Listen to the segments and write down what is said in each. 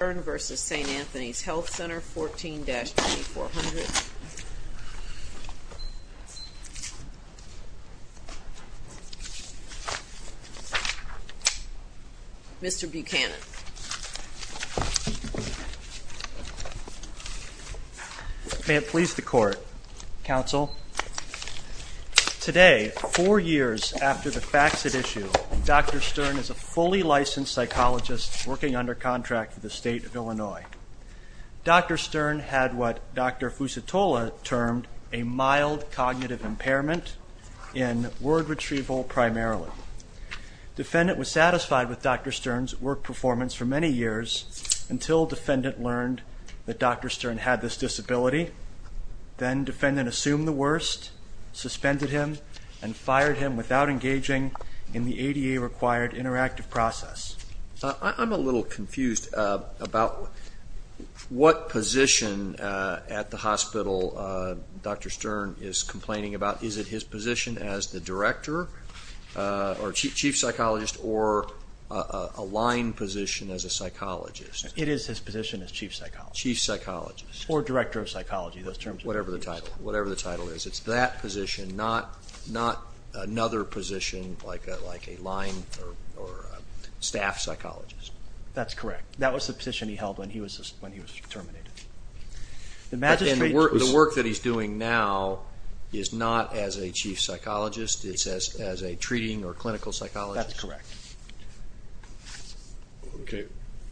14-2400. Mr. Buchanan. May it please the Court, Counsel. Today, four years after the Faxit issue, Dr. Stern is a fully licensed psychologist working under contract with the State of Illinois. Dr. Stern had what Dr. Fusitola termed a mild cognitive impairment in word retrieval primarily. Defendant was satisfied with Dr. Stern's work performance for many years until defendant learned that Dr. Stern had this disability. Then defendant assumed the worst, suspended him and fired him without engaging in the ADA-required interactive process. I'm a little confused about what position at the hospital Dr. Stern is complaining about. Is it his position as the director or chief psychologist or a line position as a psychologist? It is his position as chief psychologist. Chief psychologist. Or director of psychology, those terms. Whatever the title. Whatever the title is. It's that position, not another position like a line or staff psychologist. That's correct. That was the position he held when he was terminated. The work that he's doing now is not as a chief psychologist. It's as a treating or clinical psychologist. That's correct.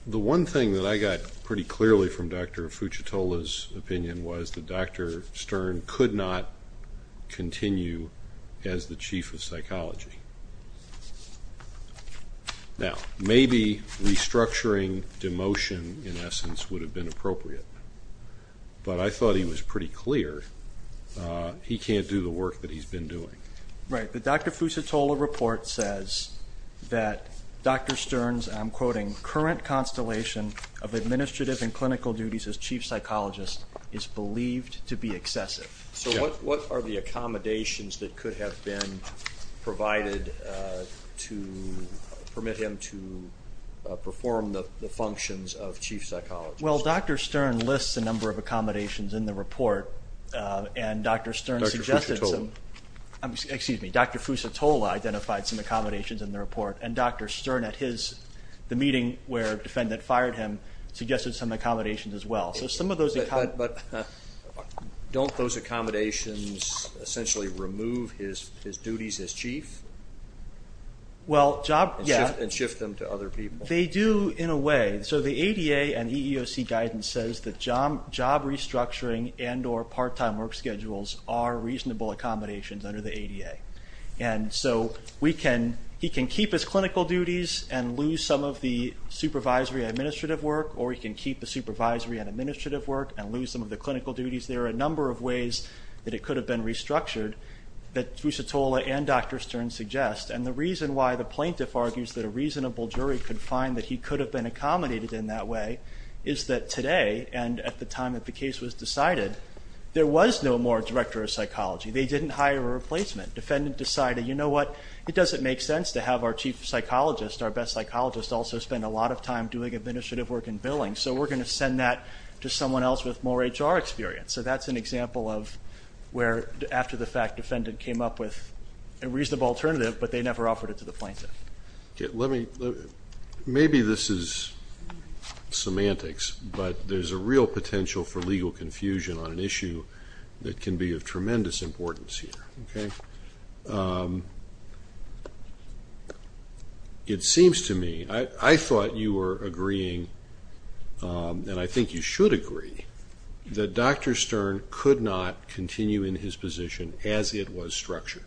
The one thing that I got pretty clearly from Dr. Fusitola's opinion was that Dr. Stern could not continue as the chief of psychology. Now, maybe restructuring demotion in essence would have been appropriate. But I thought he was pretty clear he can't do the work that he's been doing. Right. The Dr. Fusitola report says that Dr. Stern's, I'm quoting, current constellation of administrative and clinical duties as chief psychologist is believed to be excessive. So what are the accommodations that could have been provided to permit him to perform the functions of chief psychologist? Well, Dr. Stern lists a number of accommodations in the report. And Dr. Stern suggested some Dr. Fusitola. Excuse me. Dr. Fusitola identified some accommodations in the report. And Dr. Stern at his, the meeting where a defendant fired him, suggested some accommodations as well. But don't those accommodations essentially remove his duties as chief? Well, job, yeah. And shift them to other people? They do in a way. So the ADA and EEOC guidance says that job restructuring and or part-time work schedules are reasonable accommodations under the ADA. And so we can, he can keep his clinical duties and lose some of the supervisory administrative work, or he can keep the supervisory and administrative work and lose some of the clinical duties. There are a number of ways that it could have been restructured that Fusitola and Dr. Stern suggest. And the reason why the plaintiff argues that a reasonable jury could find that he could have been accommodated in that way is that today, and at the time that the case was decided, there was no more director of psychology. They didn't hire a replacement. Defendant decided, you know what, it doesn't make sense to have our chief psychologist, our best psychologist, also spend a lot of time doing administrative work and billing. So we're going to send that to someone else with more HR experience. So that's an example of where after the fact, defendant came up with a reasonable alternative, but they never offered it to the plaintiff. Maybe this is semantics, but there's a real potential for legal confusion on an issue that can be of tremendous importance here. It seems to me, I thought you were agreeing, and I think you should agree, that Dr. Stern could not continue in his position as it was structured.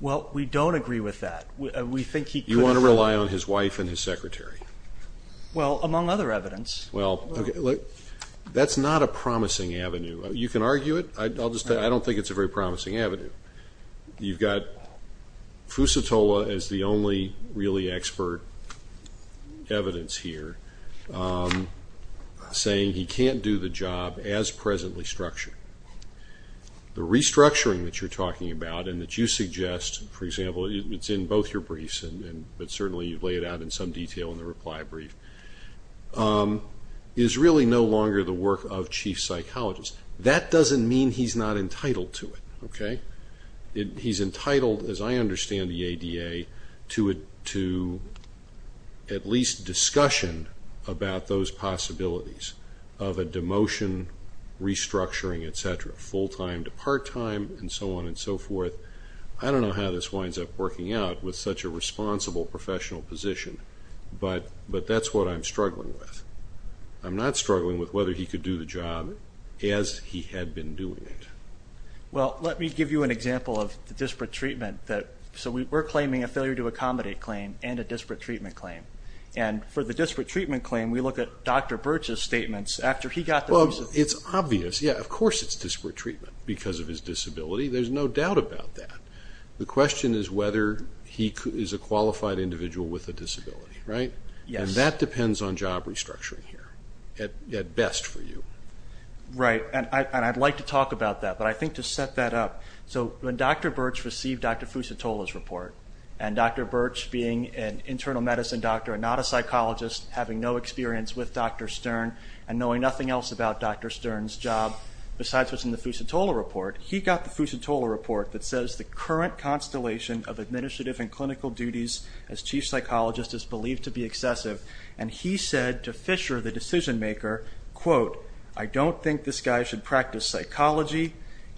Well, we don't agree with that. We think he could have. You want to rely on his wife and his secretary. Well, among other evidence. Well, that's not a promising avenue. You can argue it. I don't think it's a very promising avenue. You've got Fusatola as the only really expert evidence here saying he can't do the job as presently structured. The restructuring that you're talking about and that you suggest, for example, it's in both your briefs, but certainly you've laid it out in some detail in the reply brief, is really no longer the work of chief psychologists. That doesn't mean he's not entitled to it. He's entitled, as I understand the ADA, to at least discussion about those possibilities of a demotion, restructuring, et cetera, full-time to part-time, and so on and so forth. I don't know how this winds up working out with such a responsible professional position, but that's what I'm struggling with. I'm not struggling with whether he could do the job as he had been doing it. Well, let me give you an example of the disparate treatment. We're claiming a failure to accommodate claim and a disparate treatment claim. For the disparate treatment claim, we look at Dr. Birch's statements after he got the reason. It's obvious. Yeah, of course it's disparate treatment because of his disability. There's no doubt about that. The question is whether he is a qualified individual with a disability. That depends on job restructuring here, at best for you. Right, and I'd like to talk about that, but I think to set that up, when Dr. Birch received Dr. Fusatola's report, and Dr. Birch being an internal medicine doctor and not a psychologist, having no experience with Dr. Stern, and knowing nothing else about Dr. Stern's job besides what's in the Fusatola report, he got the Fusatola report that says the current constellation of administrative and clinical duties as chief psychologist is believed to be excessive, and he said to Fisher, the decision maker, quote, I don't think this guy should practice psychology,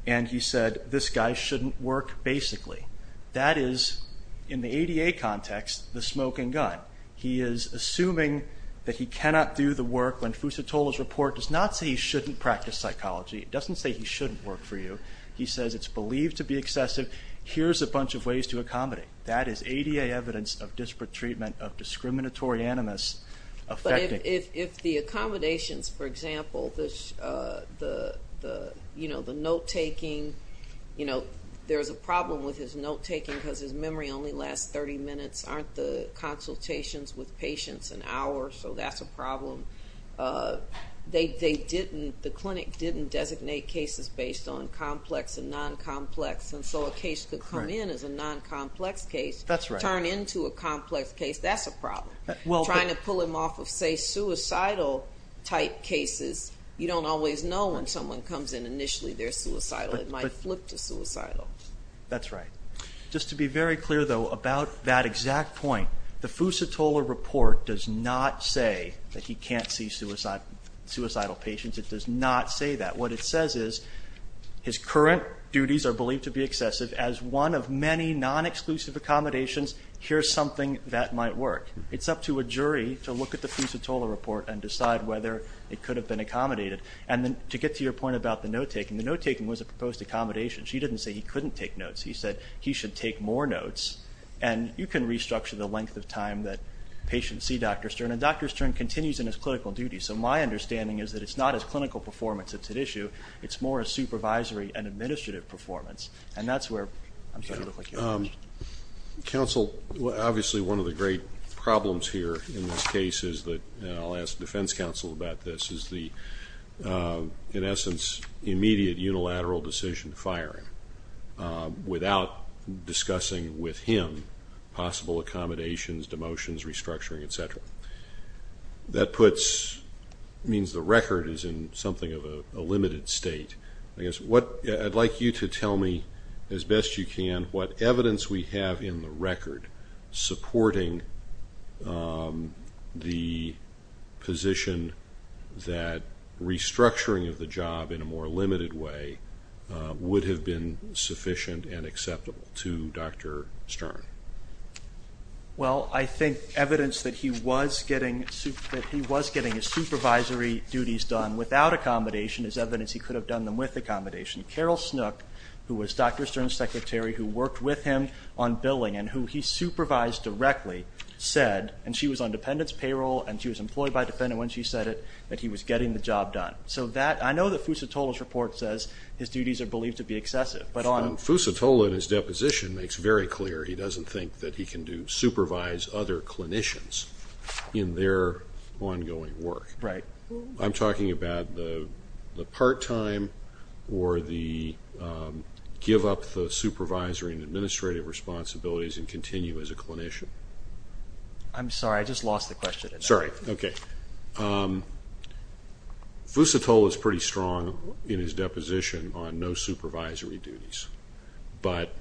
and he said this guy shouldn't work basically. That is, in the ADA context, the smoking gun. He is assuming that he cannot do the work when Fusatola's report does not say he shouldn't practice psychology. It doesn't say he shouldn't work for you. He says it's believed to be excessive. Here's a bunch of ways to accommodate. That is ADA evidence of disparate treatment, of discriminatory animus affecting. If the accommodations, for example, the note taking, there's a problem with his note taking because his memory only lasts 30 minutes. Aren't the consultations with patients an issue? They didn't, the clinic didn't designate cases based on complex and non-complex, and so a case could come in as a non-complex case, turn into a complex case, that's a problem. Trying to pull him off of, say, suicidal type cases, you don't always know when someone comes in initially they're suicidal. It might flip to suicidal. That's right. Just to be very clear, though, about that exact point, the Fusatola report does not say that he can't see suicidal patients. It does not say that. What it says is his current duties are believed to be excessive. As one of many non-exclusive accommodations, here's something that might work. It's up to a jury to look at the Fusatola report and decide whether it could have been accommodated. And then to get to your point about the note taking, the note taking was a proposed accommodation. She didn't say he couldn't take notes. She said he should take more notes, and you can see Dr. Stern, and Dr. Stern continues in his clinical duties, so my understanding is that it's not his clinical performance that's at issue. It's more a supervisory and administrative performance, and that's where I'm starting to look like you. Counsel, obviously one of the great problems here in this case is that, and I'll ask Defense Counsel about this, is the, in essence, immediate unilateral decision to fire him without discussing with him possible accommodations, demotions, restructuring, et cetera. That puts, means the record is in something of a limited state. I guess what, I'd like you to tell me as best you can what evidence we have in the record supporting the position that restructuring of the job in a more limited way would have been sufficient and acceptable to Dr. Stern. Well, I think evidence that he was getting his supervisory duties done without accommodation is evidence he could have done them with accommodation. Carol Snook, who was Dr. Stern's secretary, who worked with him on billing and who he supervised directly, said, and she was on dependents payroll and she was employed by a dependent when she said it, that he was I know that Fusatola's report says his duties are believed to be excessive, but on Fusatola in his deposition makes very clear he doesn't think that he can do, supervise other clinicians in their ongoing work. Right. I'm talking about the part-time or the give up the supervisory and administrative responsibilities and continue as a clinician. I'm sorry, I just lost the slide. Sorry. Okay. Fusatola's pretty strong in his deposition on no supervisory duties, but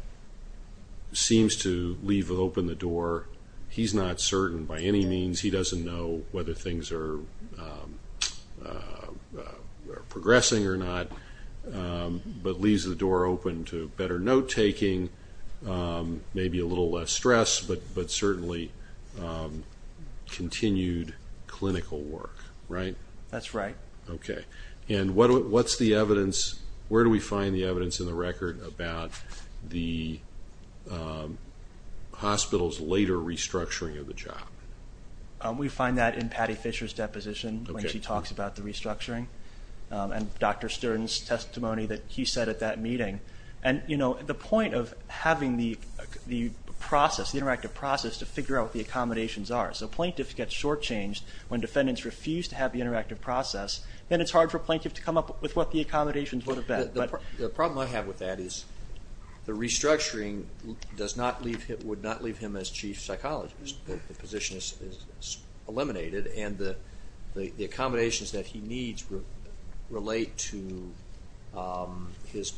seems to leave open the door. He's not certain by any means. He doesn't know whether things are progressing or not, but leaves the door open to better note taking, maybe a little less stress, but certainly continued clinical work. Right? That's right. Okay. And what's the evidence, where do we find the evidence in the record about the hospital's later restructuring of the job? We find that in Patty Fisher's deposition when she talks about the restructuring and Dr. Stern's testimony that he said at that meeting. And you know, the point of having the process, the interactive process, to figure out what the accommodations are. So plaintiff gets shortchanged when defendants refuse to have the interactive process, then it's hard for plaintiff to come up with what the accommodations would have been. The problem I have with that is the restructuring does not leave him, would not leave him as chief psychologist. The position is eliminated and the accommodations that he needs relate to his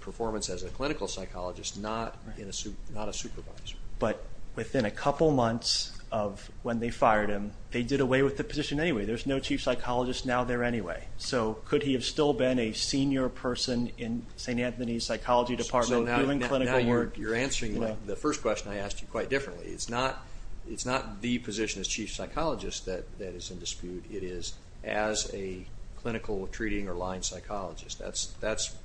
performance as a clinical psychologist, not a supervisor. But within a couple months of when they fired him, they did away with the position anyway. There's no chief psychologist now there anyway. So could he have still been a senior person in St. Anthony's psychology department doing clinical work? So now you're answering the first question I asked you quite differently. It's not the position as chief psychologist that is in dispute. It is as a clinical, treating, or line psychologist. That's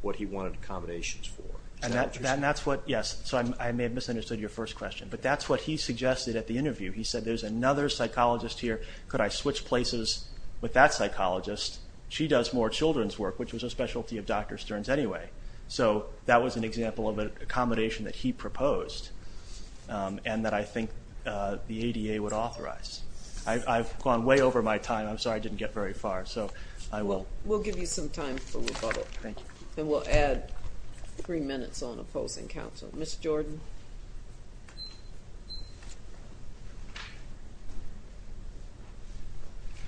what he wanted accommodations for. And that's what, yes, so I may have misunderstood your first question, but that's what he suggested at the interview. He said there's another psychologist here. Could I switch places with that psychologist? She does more children's work, which was a specialty of Dr. Stern's anyway. So that was an example of an accommodation that he proposed and that I think the ADA would authorize. I've gone way over my time. I'm sorry I didn't get very far, so I will. We'll give you some time for rebuttal. Thank you. And we'll add three minutes on opposing counsel. Ms. Jordan.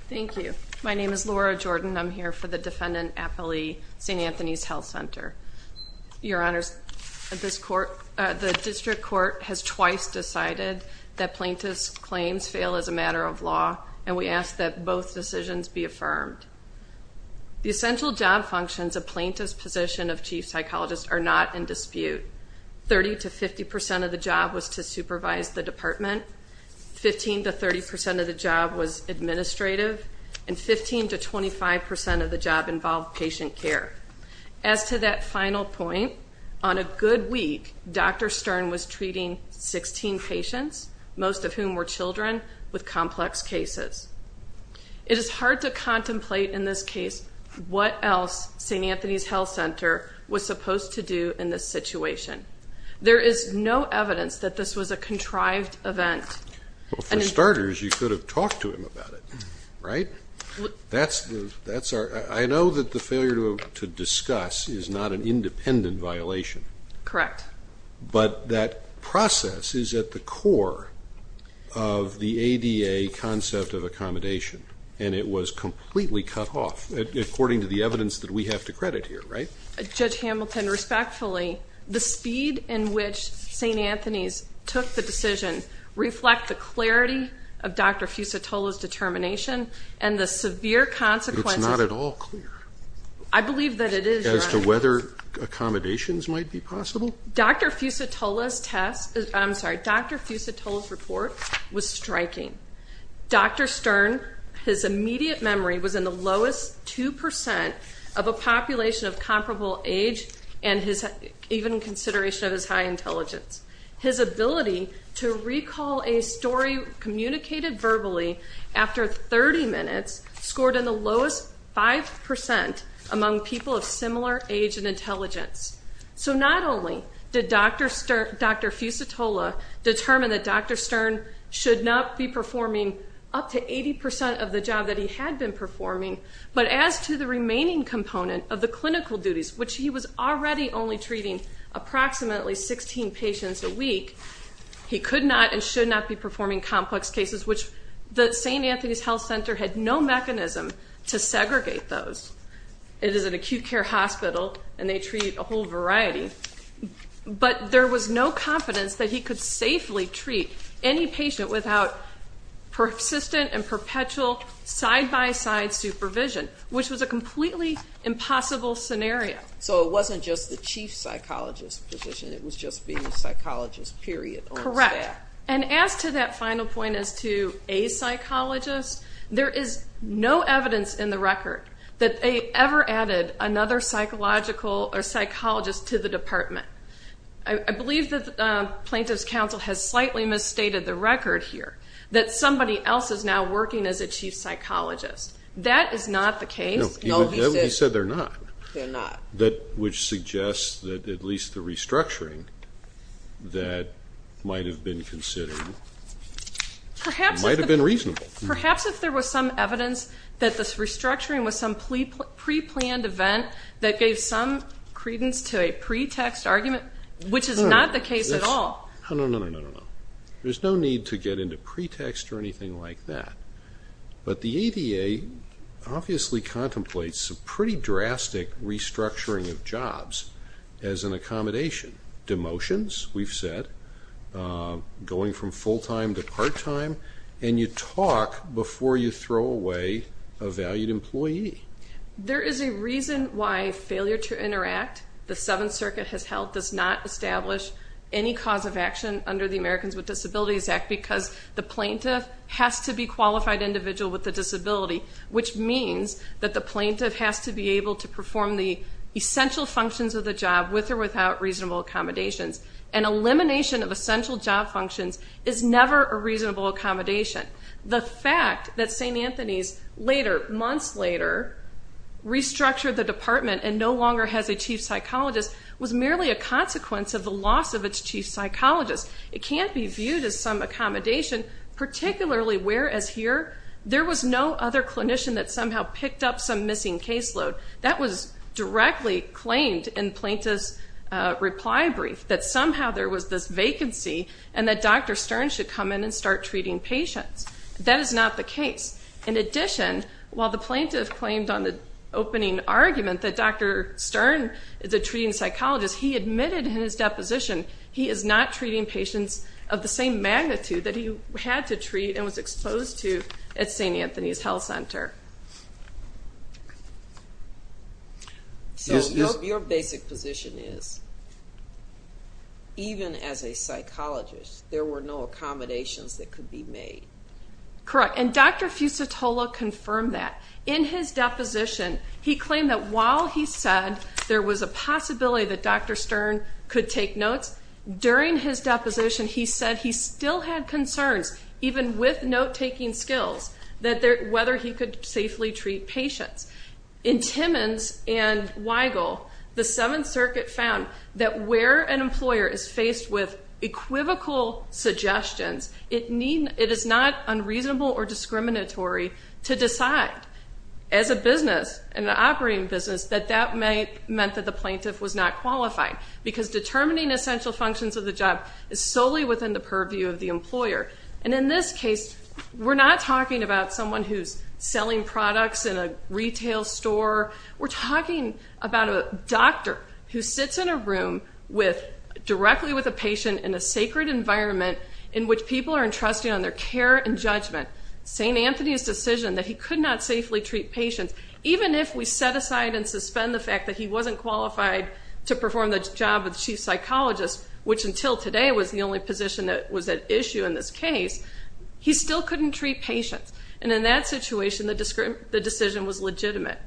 Thank you. My name is Laura Jordan. I'm here for the defendant at the St. Anthony's Health Center. Your Honors, the district court has twice decided that names fail as a matter of law, and we ask that both decisions be affirmed. The essential job functions of plaintiff's position of chief psychologist are not in dispute. Thirty to fifty percent of the job was to supervise the department. Fifteen to thirty percent of the job was administrative. And fifteen to twenty-five percent of the job involved patient care. As to that final point, on a good week Dr. Stern was treating sixteen patients, most of whom were children, with complex cases. It is hard to contemplate in this case what else St. Anthony's Health Center was supposed to do in this situation. There is no evidence that this was a contrived event. For starters, you could have talked to him about it, right? I know that the failure to discuss is not an independent violation. Correct. But that process is at the core of the ADA concept of accommodation, and it was completely cut off, according to the evidence that we have to credit here, right? Judge Hamilton, respectfully, the speed in which St. Anthony's took the decision reflect the clarity of Dr. Fusitola's determination and the severe consequences. It's not at all clear. I believe that it is, as to whether accommodations might be possible? Dr. Fusitola's test, I'm sorry, Dr. Fusitola's report was striking. Dr. Stern, his immediate memory was in the lowest two percent of a population of comparable age, and even in consideration of his high intelligence. His ability to recall a story communicated verbally after thirty minutes scored in the lowest five percent among people of similar age and intelligence. So not only did Dr. Fusitola determine that Dr. Stern should not be performing up to eighty percent of the job that he had been performing, but as to the remaining component of the clinical duties, which he was already only treating approximately sixteen patients a week, he could not and should not be performing complex cases, which the St. Anthony's Health Center had no mechanism to segregate those. It is an acute care hospital, and they treat a whole variety. But there was no confidence that he could safely treat any patient without persistent and perpetual side-by-side supervision, which was a completely impossible scenario. So it wasn't just the chief psychologist's just being a psychologist, period. Correct. And as to that final point as to a psychologist, there is no evidence in the record that they ever added another psychological or psychologist to the department. I believe that the Plaintiff's Counsel has slightly misstated the record here that somebody else is now working as a chief psychologist. That is not the case. No, he said they're not. That would suggest that at least the restructuring that might have been considered might have been reasonable. Perhaps if there was some evidence that the restructuring was some pre-planned event that gave some credence to a pretext argument, which is not the case at all. No, no, no, no, no. There's no need to get into pretext or anything like that. But the ADA obviously contemplates a pretty drastic restructuring of jobs as an accommodation. Demotions, we've said, going from full-time to part-time, and you talk before you throw away a valued employee. There is a reason why Failure to Interact, the Seventh Circuit has held, does not establish any cause of action under the Americans with Disabilities Act. The plaintiff has to be a qualified individual with a disability, which means that the plaintiff has to be able to perform the essential functions of the job with or without reasonable accommodations. An elimination of essential job functions is never a reasonable accommodation. The fact that St. Anthony's later, months later, restructured the department and no longer has a chief psychologist was merely a consequence of the loss of its chief psychologist. It can't be viewed as some accommodation, particularly whereas here, there was no other clinician that somehow picked up some missing caseload. That was directly claimed in the plaintiff's reply brief, that somehow there was this vacancy and that Dr. Stern should come in and start treating patients. That is not the case. In addition, while the plaintiff claimed on the opening argument that Dr. Stern is a treating physician, he is not treating patients of the same magnitude that he had to treat and was exposed to at St. Anthony's Health Center. Your basic position is, even as a psychologist, there were no accommodations that could be made. Correct. Dr. Fusitola confirmed that. In his deposition, he claimed that while he said there was a possibility that Dr. Stern could take notes, during his deposition, he said he still had concerns, even with note-taking skills, that whether he could safely treat patients. In Timmons and Weigel, the Seventh Circuit found that where an employer is faced with equivocal suggestions, it is not unreasonable or discriminatory to decide, as a business and an operating business, that that meant that the plaintiff was not qualified because determining essential functions of the job is solely within the purview of the employer. In this case, we're not talking about someone who's selling products in a retail store. We're talking about a doctor who sits in a room directly with a patient in a sacred environment in which people are entrusting on their care and judgment, St. Anthony's decision that he could not safely treat patients, even if we set aside and suspend the fact that he wasn't qualified to perform the job of the chief psychologist, which until today was the only position that was at issue in this case, he still couldn't treat patients. And in that situation, the decision was legitimate.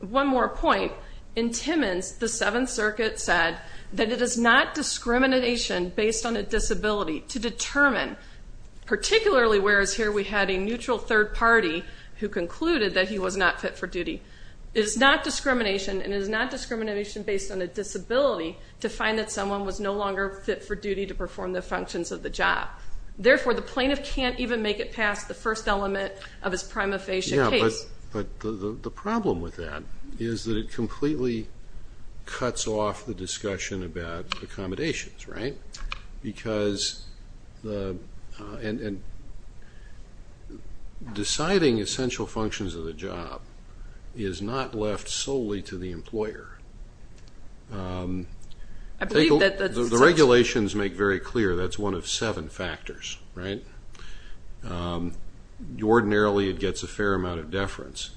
One more point. In Timmons, the Seventh Circuit said that it is not discrimination based on a disability to determine, particularly whereas here we had a neutral third party who concluded that he was not fit for duty. It is not discrimination, and it is not discrimination based on a disability to find that someone was no longer fit for duty to perform the functions of the job. Therefore, the plaintiff can't even make it past the first element of his prima facie case. Yeah, but the problem with that is that it completely cuts off the discussion about accommodations, right? Because deciding essential functions of the job is not left solely to the employer. The regulations make very clear that's one of seven factors, right? Ordinarily, it gets a fair amount of deference,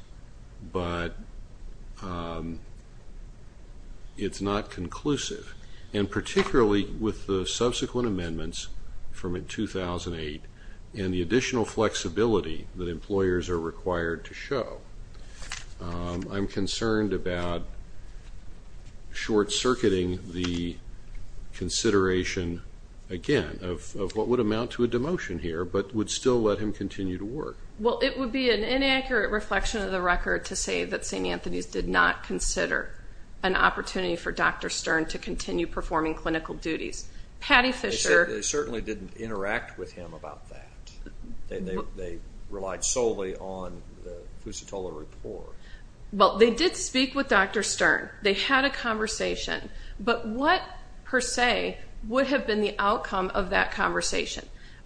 but it's not conclusive. And particularly considering the fact that with the subsequent amendments from 2008 and the additional flexibility that employers are required to show, I'm concerned about short-circuiting the consideration, again, of what would amount to a demotion here, but would still let him continue to work. Well, it would be an inaccurate reflection of the record to say that St. Anthony's did not consider an opportunity for Dr. Stern to continue performing clinical duties. They certainly didn't interact with him about that. They relied solely on the Fusitola report. Well, they did speak with Dr. Stern. They had a conversation. But what, per se, would have been the outcome of that conversation?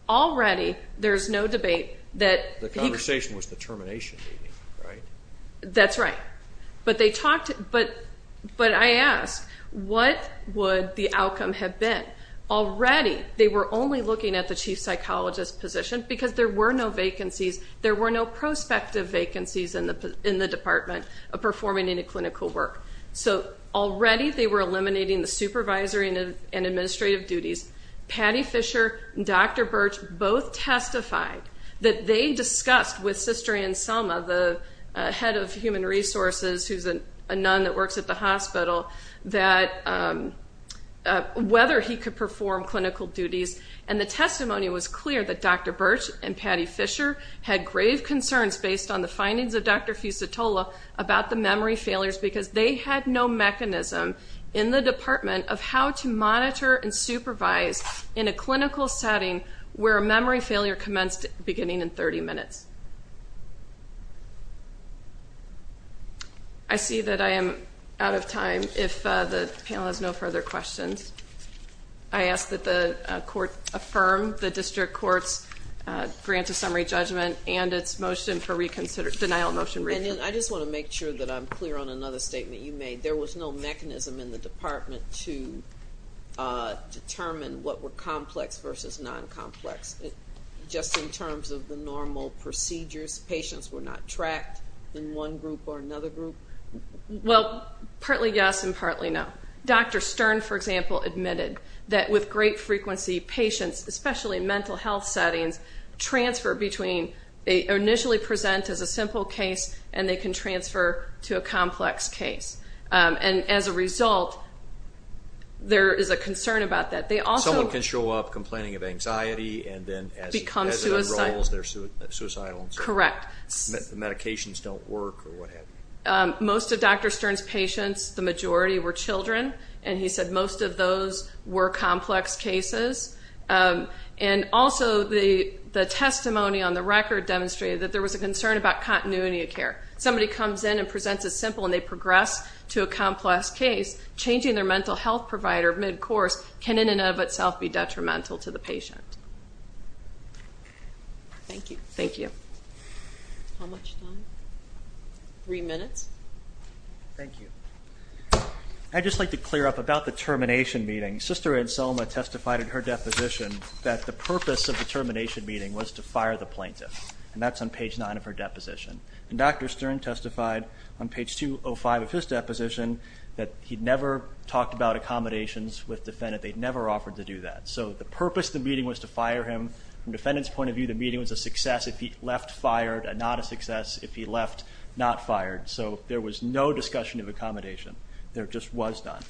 Already, there's no debate that he The conversation was the termination meeting, right? That's right. But I ask, what would the outcome have been? Already, they were only looking at the chief psychologist position because there were no vacancies, there were no prospective vacancies in the department of performing any clinical work. So already, they were eliminating the supervisory and administrative duties. Patty Fisher and Dr. Birch both testified that they discussed with Sister Ann Selma, the head of human resources who's a nun that works at the hospital, whether he could perform clinical duties. And the testimony was clear that Dr. Birch and Patty Fisher had grave concerns based on the findings of Dr. Fusitola about the memory failures because they had no mechanism in the department of how to monitor and supervise in a clinical setting where a memory failure commenced beginning in 30 minutes. I see that I am out of time if the panel has no further questions. I ask that the court affirm the district court's grant of summary judgment and its motion for denial of motion re-consideration. I just want to make sure that I'm clear on another statement you made. There was no mechanism in the department to determine what were complex versus non-complex. Just in terms of the normal procedures, patients were not tracked in one group or another group? Well, partly yes and partly no. Dr. Stern, for example, admitted that with great frequency, patients, especially in mental health settings, initially present as a simple case and they can transfer to a complex case. And as a result, there is a concern about that. Someone can show up complaining of anxiety and then as it unrolls, they're suicidal. Most of Dr. Stern's patients, the majority, were children and he said most of those were complex cases. And also, the testimony on the record demonstrated that there was a concern about continuity of care. Somebody comes in and presents as simple and they progress to a complex case, changing their mental health provider mid-course can in and of itself be detrimental to the patient. Thank you. Thank you. How much time? Three minutes? Thank you. I'd just like to clear up about the termination meeting. Sister Anselma testified in her deposition that the purpose of the termination meeting was to fire the plaintiff. And that's on page 9 of her deposition. And Dr. Stern testified on page 205 of his deposition that he'd never talked about accommodations with defendants. They'd never offered to do that. So the purpose of the meeting was to fire him. From the defendant's point of view, the meeting was a success if he left fired and not a success if he left not fired. So there was no discussion of accommodation. There just was none.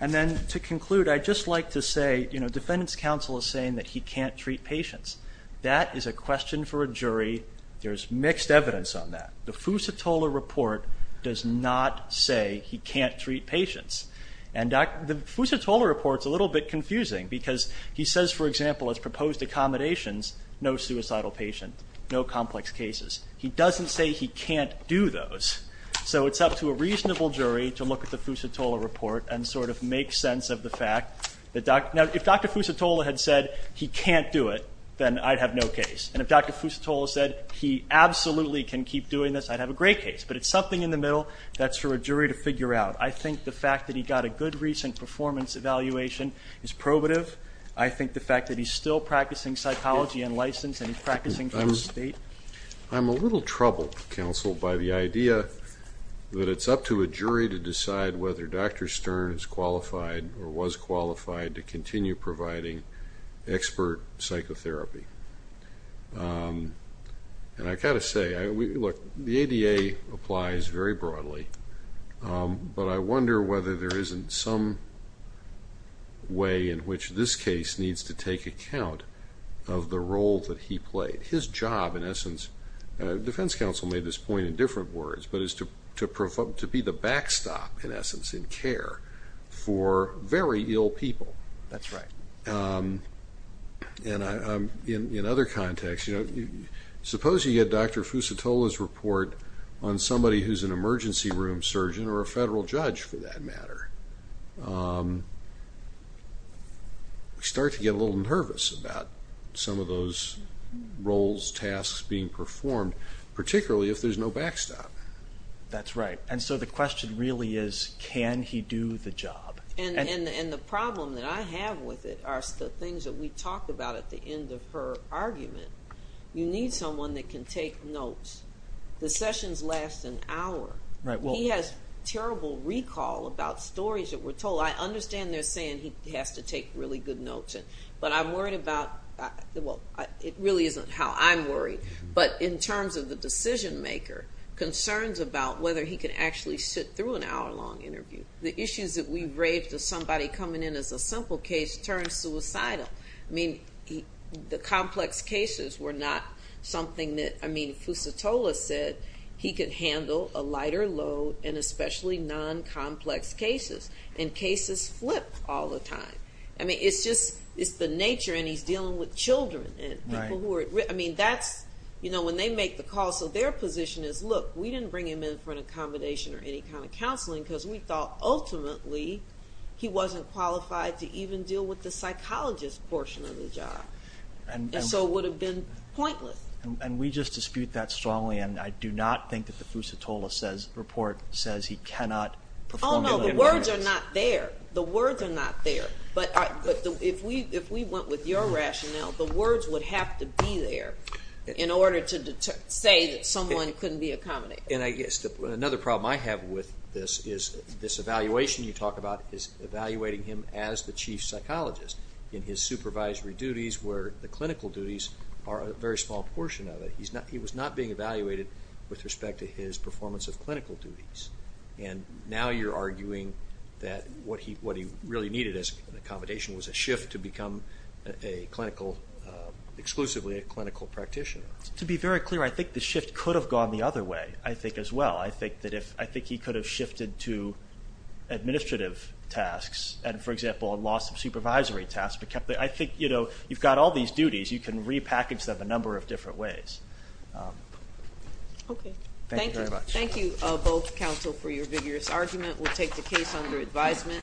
And then to conclude, I'd just like to say, you know, defendant's counsel is saying that he can't treat patients. That is a question for a jury. There's mixed evidence on that. The Fusatola report does not say he can't treat patients. And the Fusatola report's a little bit confusing because he says, for example, as proposed accommodations, no suicidal patient, no complex cases. He doesn't say he can't do those. So it's up to a reasonable jury to look at the Fusatola report and sort of make sense of the fact that – now, if Dr. Fusatola had said he can't do it, then I'd have no case. And if Dr. Fusatola said he absolutely can keep doing this, I'd have a great case. But it's something in the middle that's for a jury to figure out. I think the fact that he got a good recent performance evaluation is probative. I think the fact that he's still practicing psychology and license and he's practicing for the state – I'm – I'm a little troubled, counsel, by the idea that it's up to a jury to decide whether Dr. Stern is qualified or was qualified to continue providing expert psychotherapy. And I've got to say, I – look, the ADA applies very broadly, but I wonder whether there isn't some way in which this case needs to take account of the role that he played. His job, in essence – defense counsel made this point in different words, but is to be the backstop, in essence, in care for very ill people. That's right. And in other contexts, you know, suppose you get Dr. Fusatola's report on somebody who's an emergency room surgeon or a federal judge, for that matter. You start to get a little nervous about some of those roles, tasks being performed, particularly if there's no backstop. That's right. And so the question really is, can he do the job? And the problem that I have with it are the things that we talked about at the end of her argument. You need someone that can take notes. The sessions last an hour. Right, well – He has terrible recall about stories that were told. I understand they're saying he has to take really good notes, but I'm worried about – well, it really isn't how I'm worried, but in terms of the decision-maker, concerns about whether he can actually sit through an hour-long interview. The issues that we raved to somebody coming in as a simple case turned suicidal. I mean, the complex cases were not something that – I mean, Fusatola said he could handle a lighter load and especially non-complex cases, and cases flip all the time. I mean, it's just – it's the nature, and he's dealing with children and people who are – I mean, that's – you know, when they make the call, so their position is, look, we didn't bring him in for an accommodation or any kind of counseling because we thought ultimately he wasn't qualified to even deal with the psychologist portion of the job. And so it would have been pointless. And we just dispute that strongly, and I do not think that the Fusatola says – report says he cannot – Oh, no, the words are not there. The words are not there. But if we went with your rationale, the words would have to be there in order to say that someone couldn't be accommodated. And I guess another problem I have with this is this evaluation you talk about is evaluating him as the chief psychologist in his supervisory duties where the clinical duties are a very small portion of it. He was not being evaluated with respect to his performance of clinical duties. And now you're arguing that what he really needed as an accommodation was a position where he could become a clinical – exclusively a clinical practitioner. To be very clear, I think the shift could have gone the other way, I think, as well. I think that if – I think he could have shifted to administrative tasks and, for example, lost some supervisory tasks but kept the – I think, you know, you've got all these duties. You can repackage them a number of different ways. Okay. Thank you. Thank you very much. Thank you both, counsel, for your vigorous argument. We'll take the case under advisement.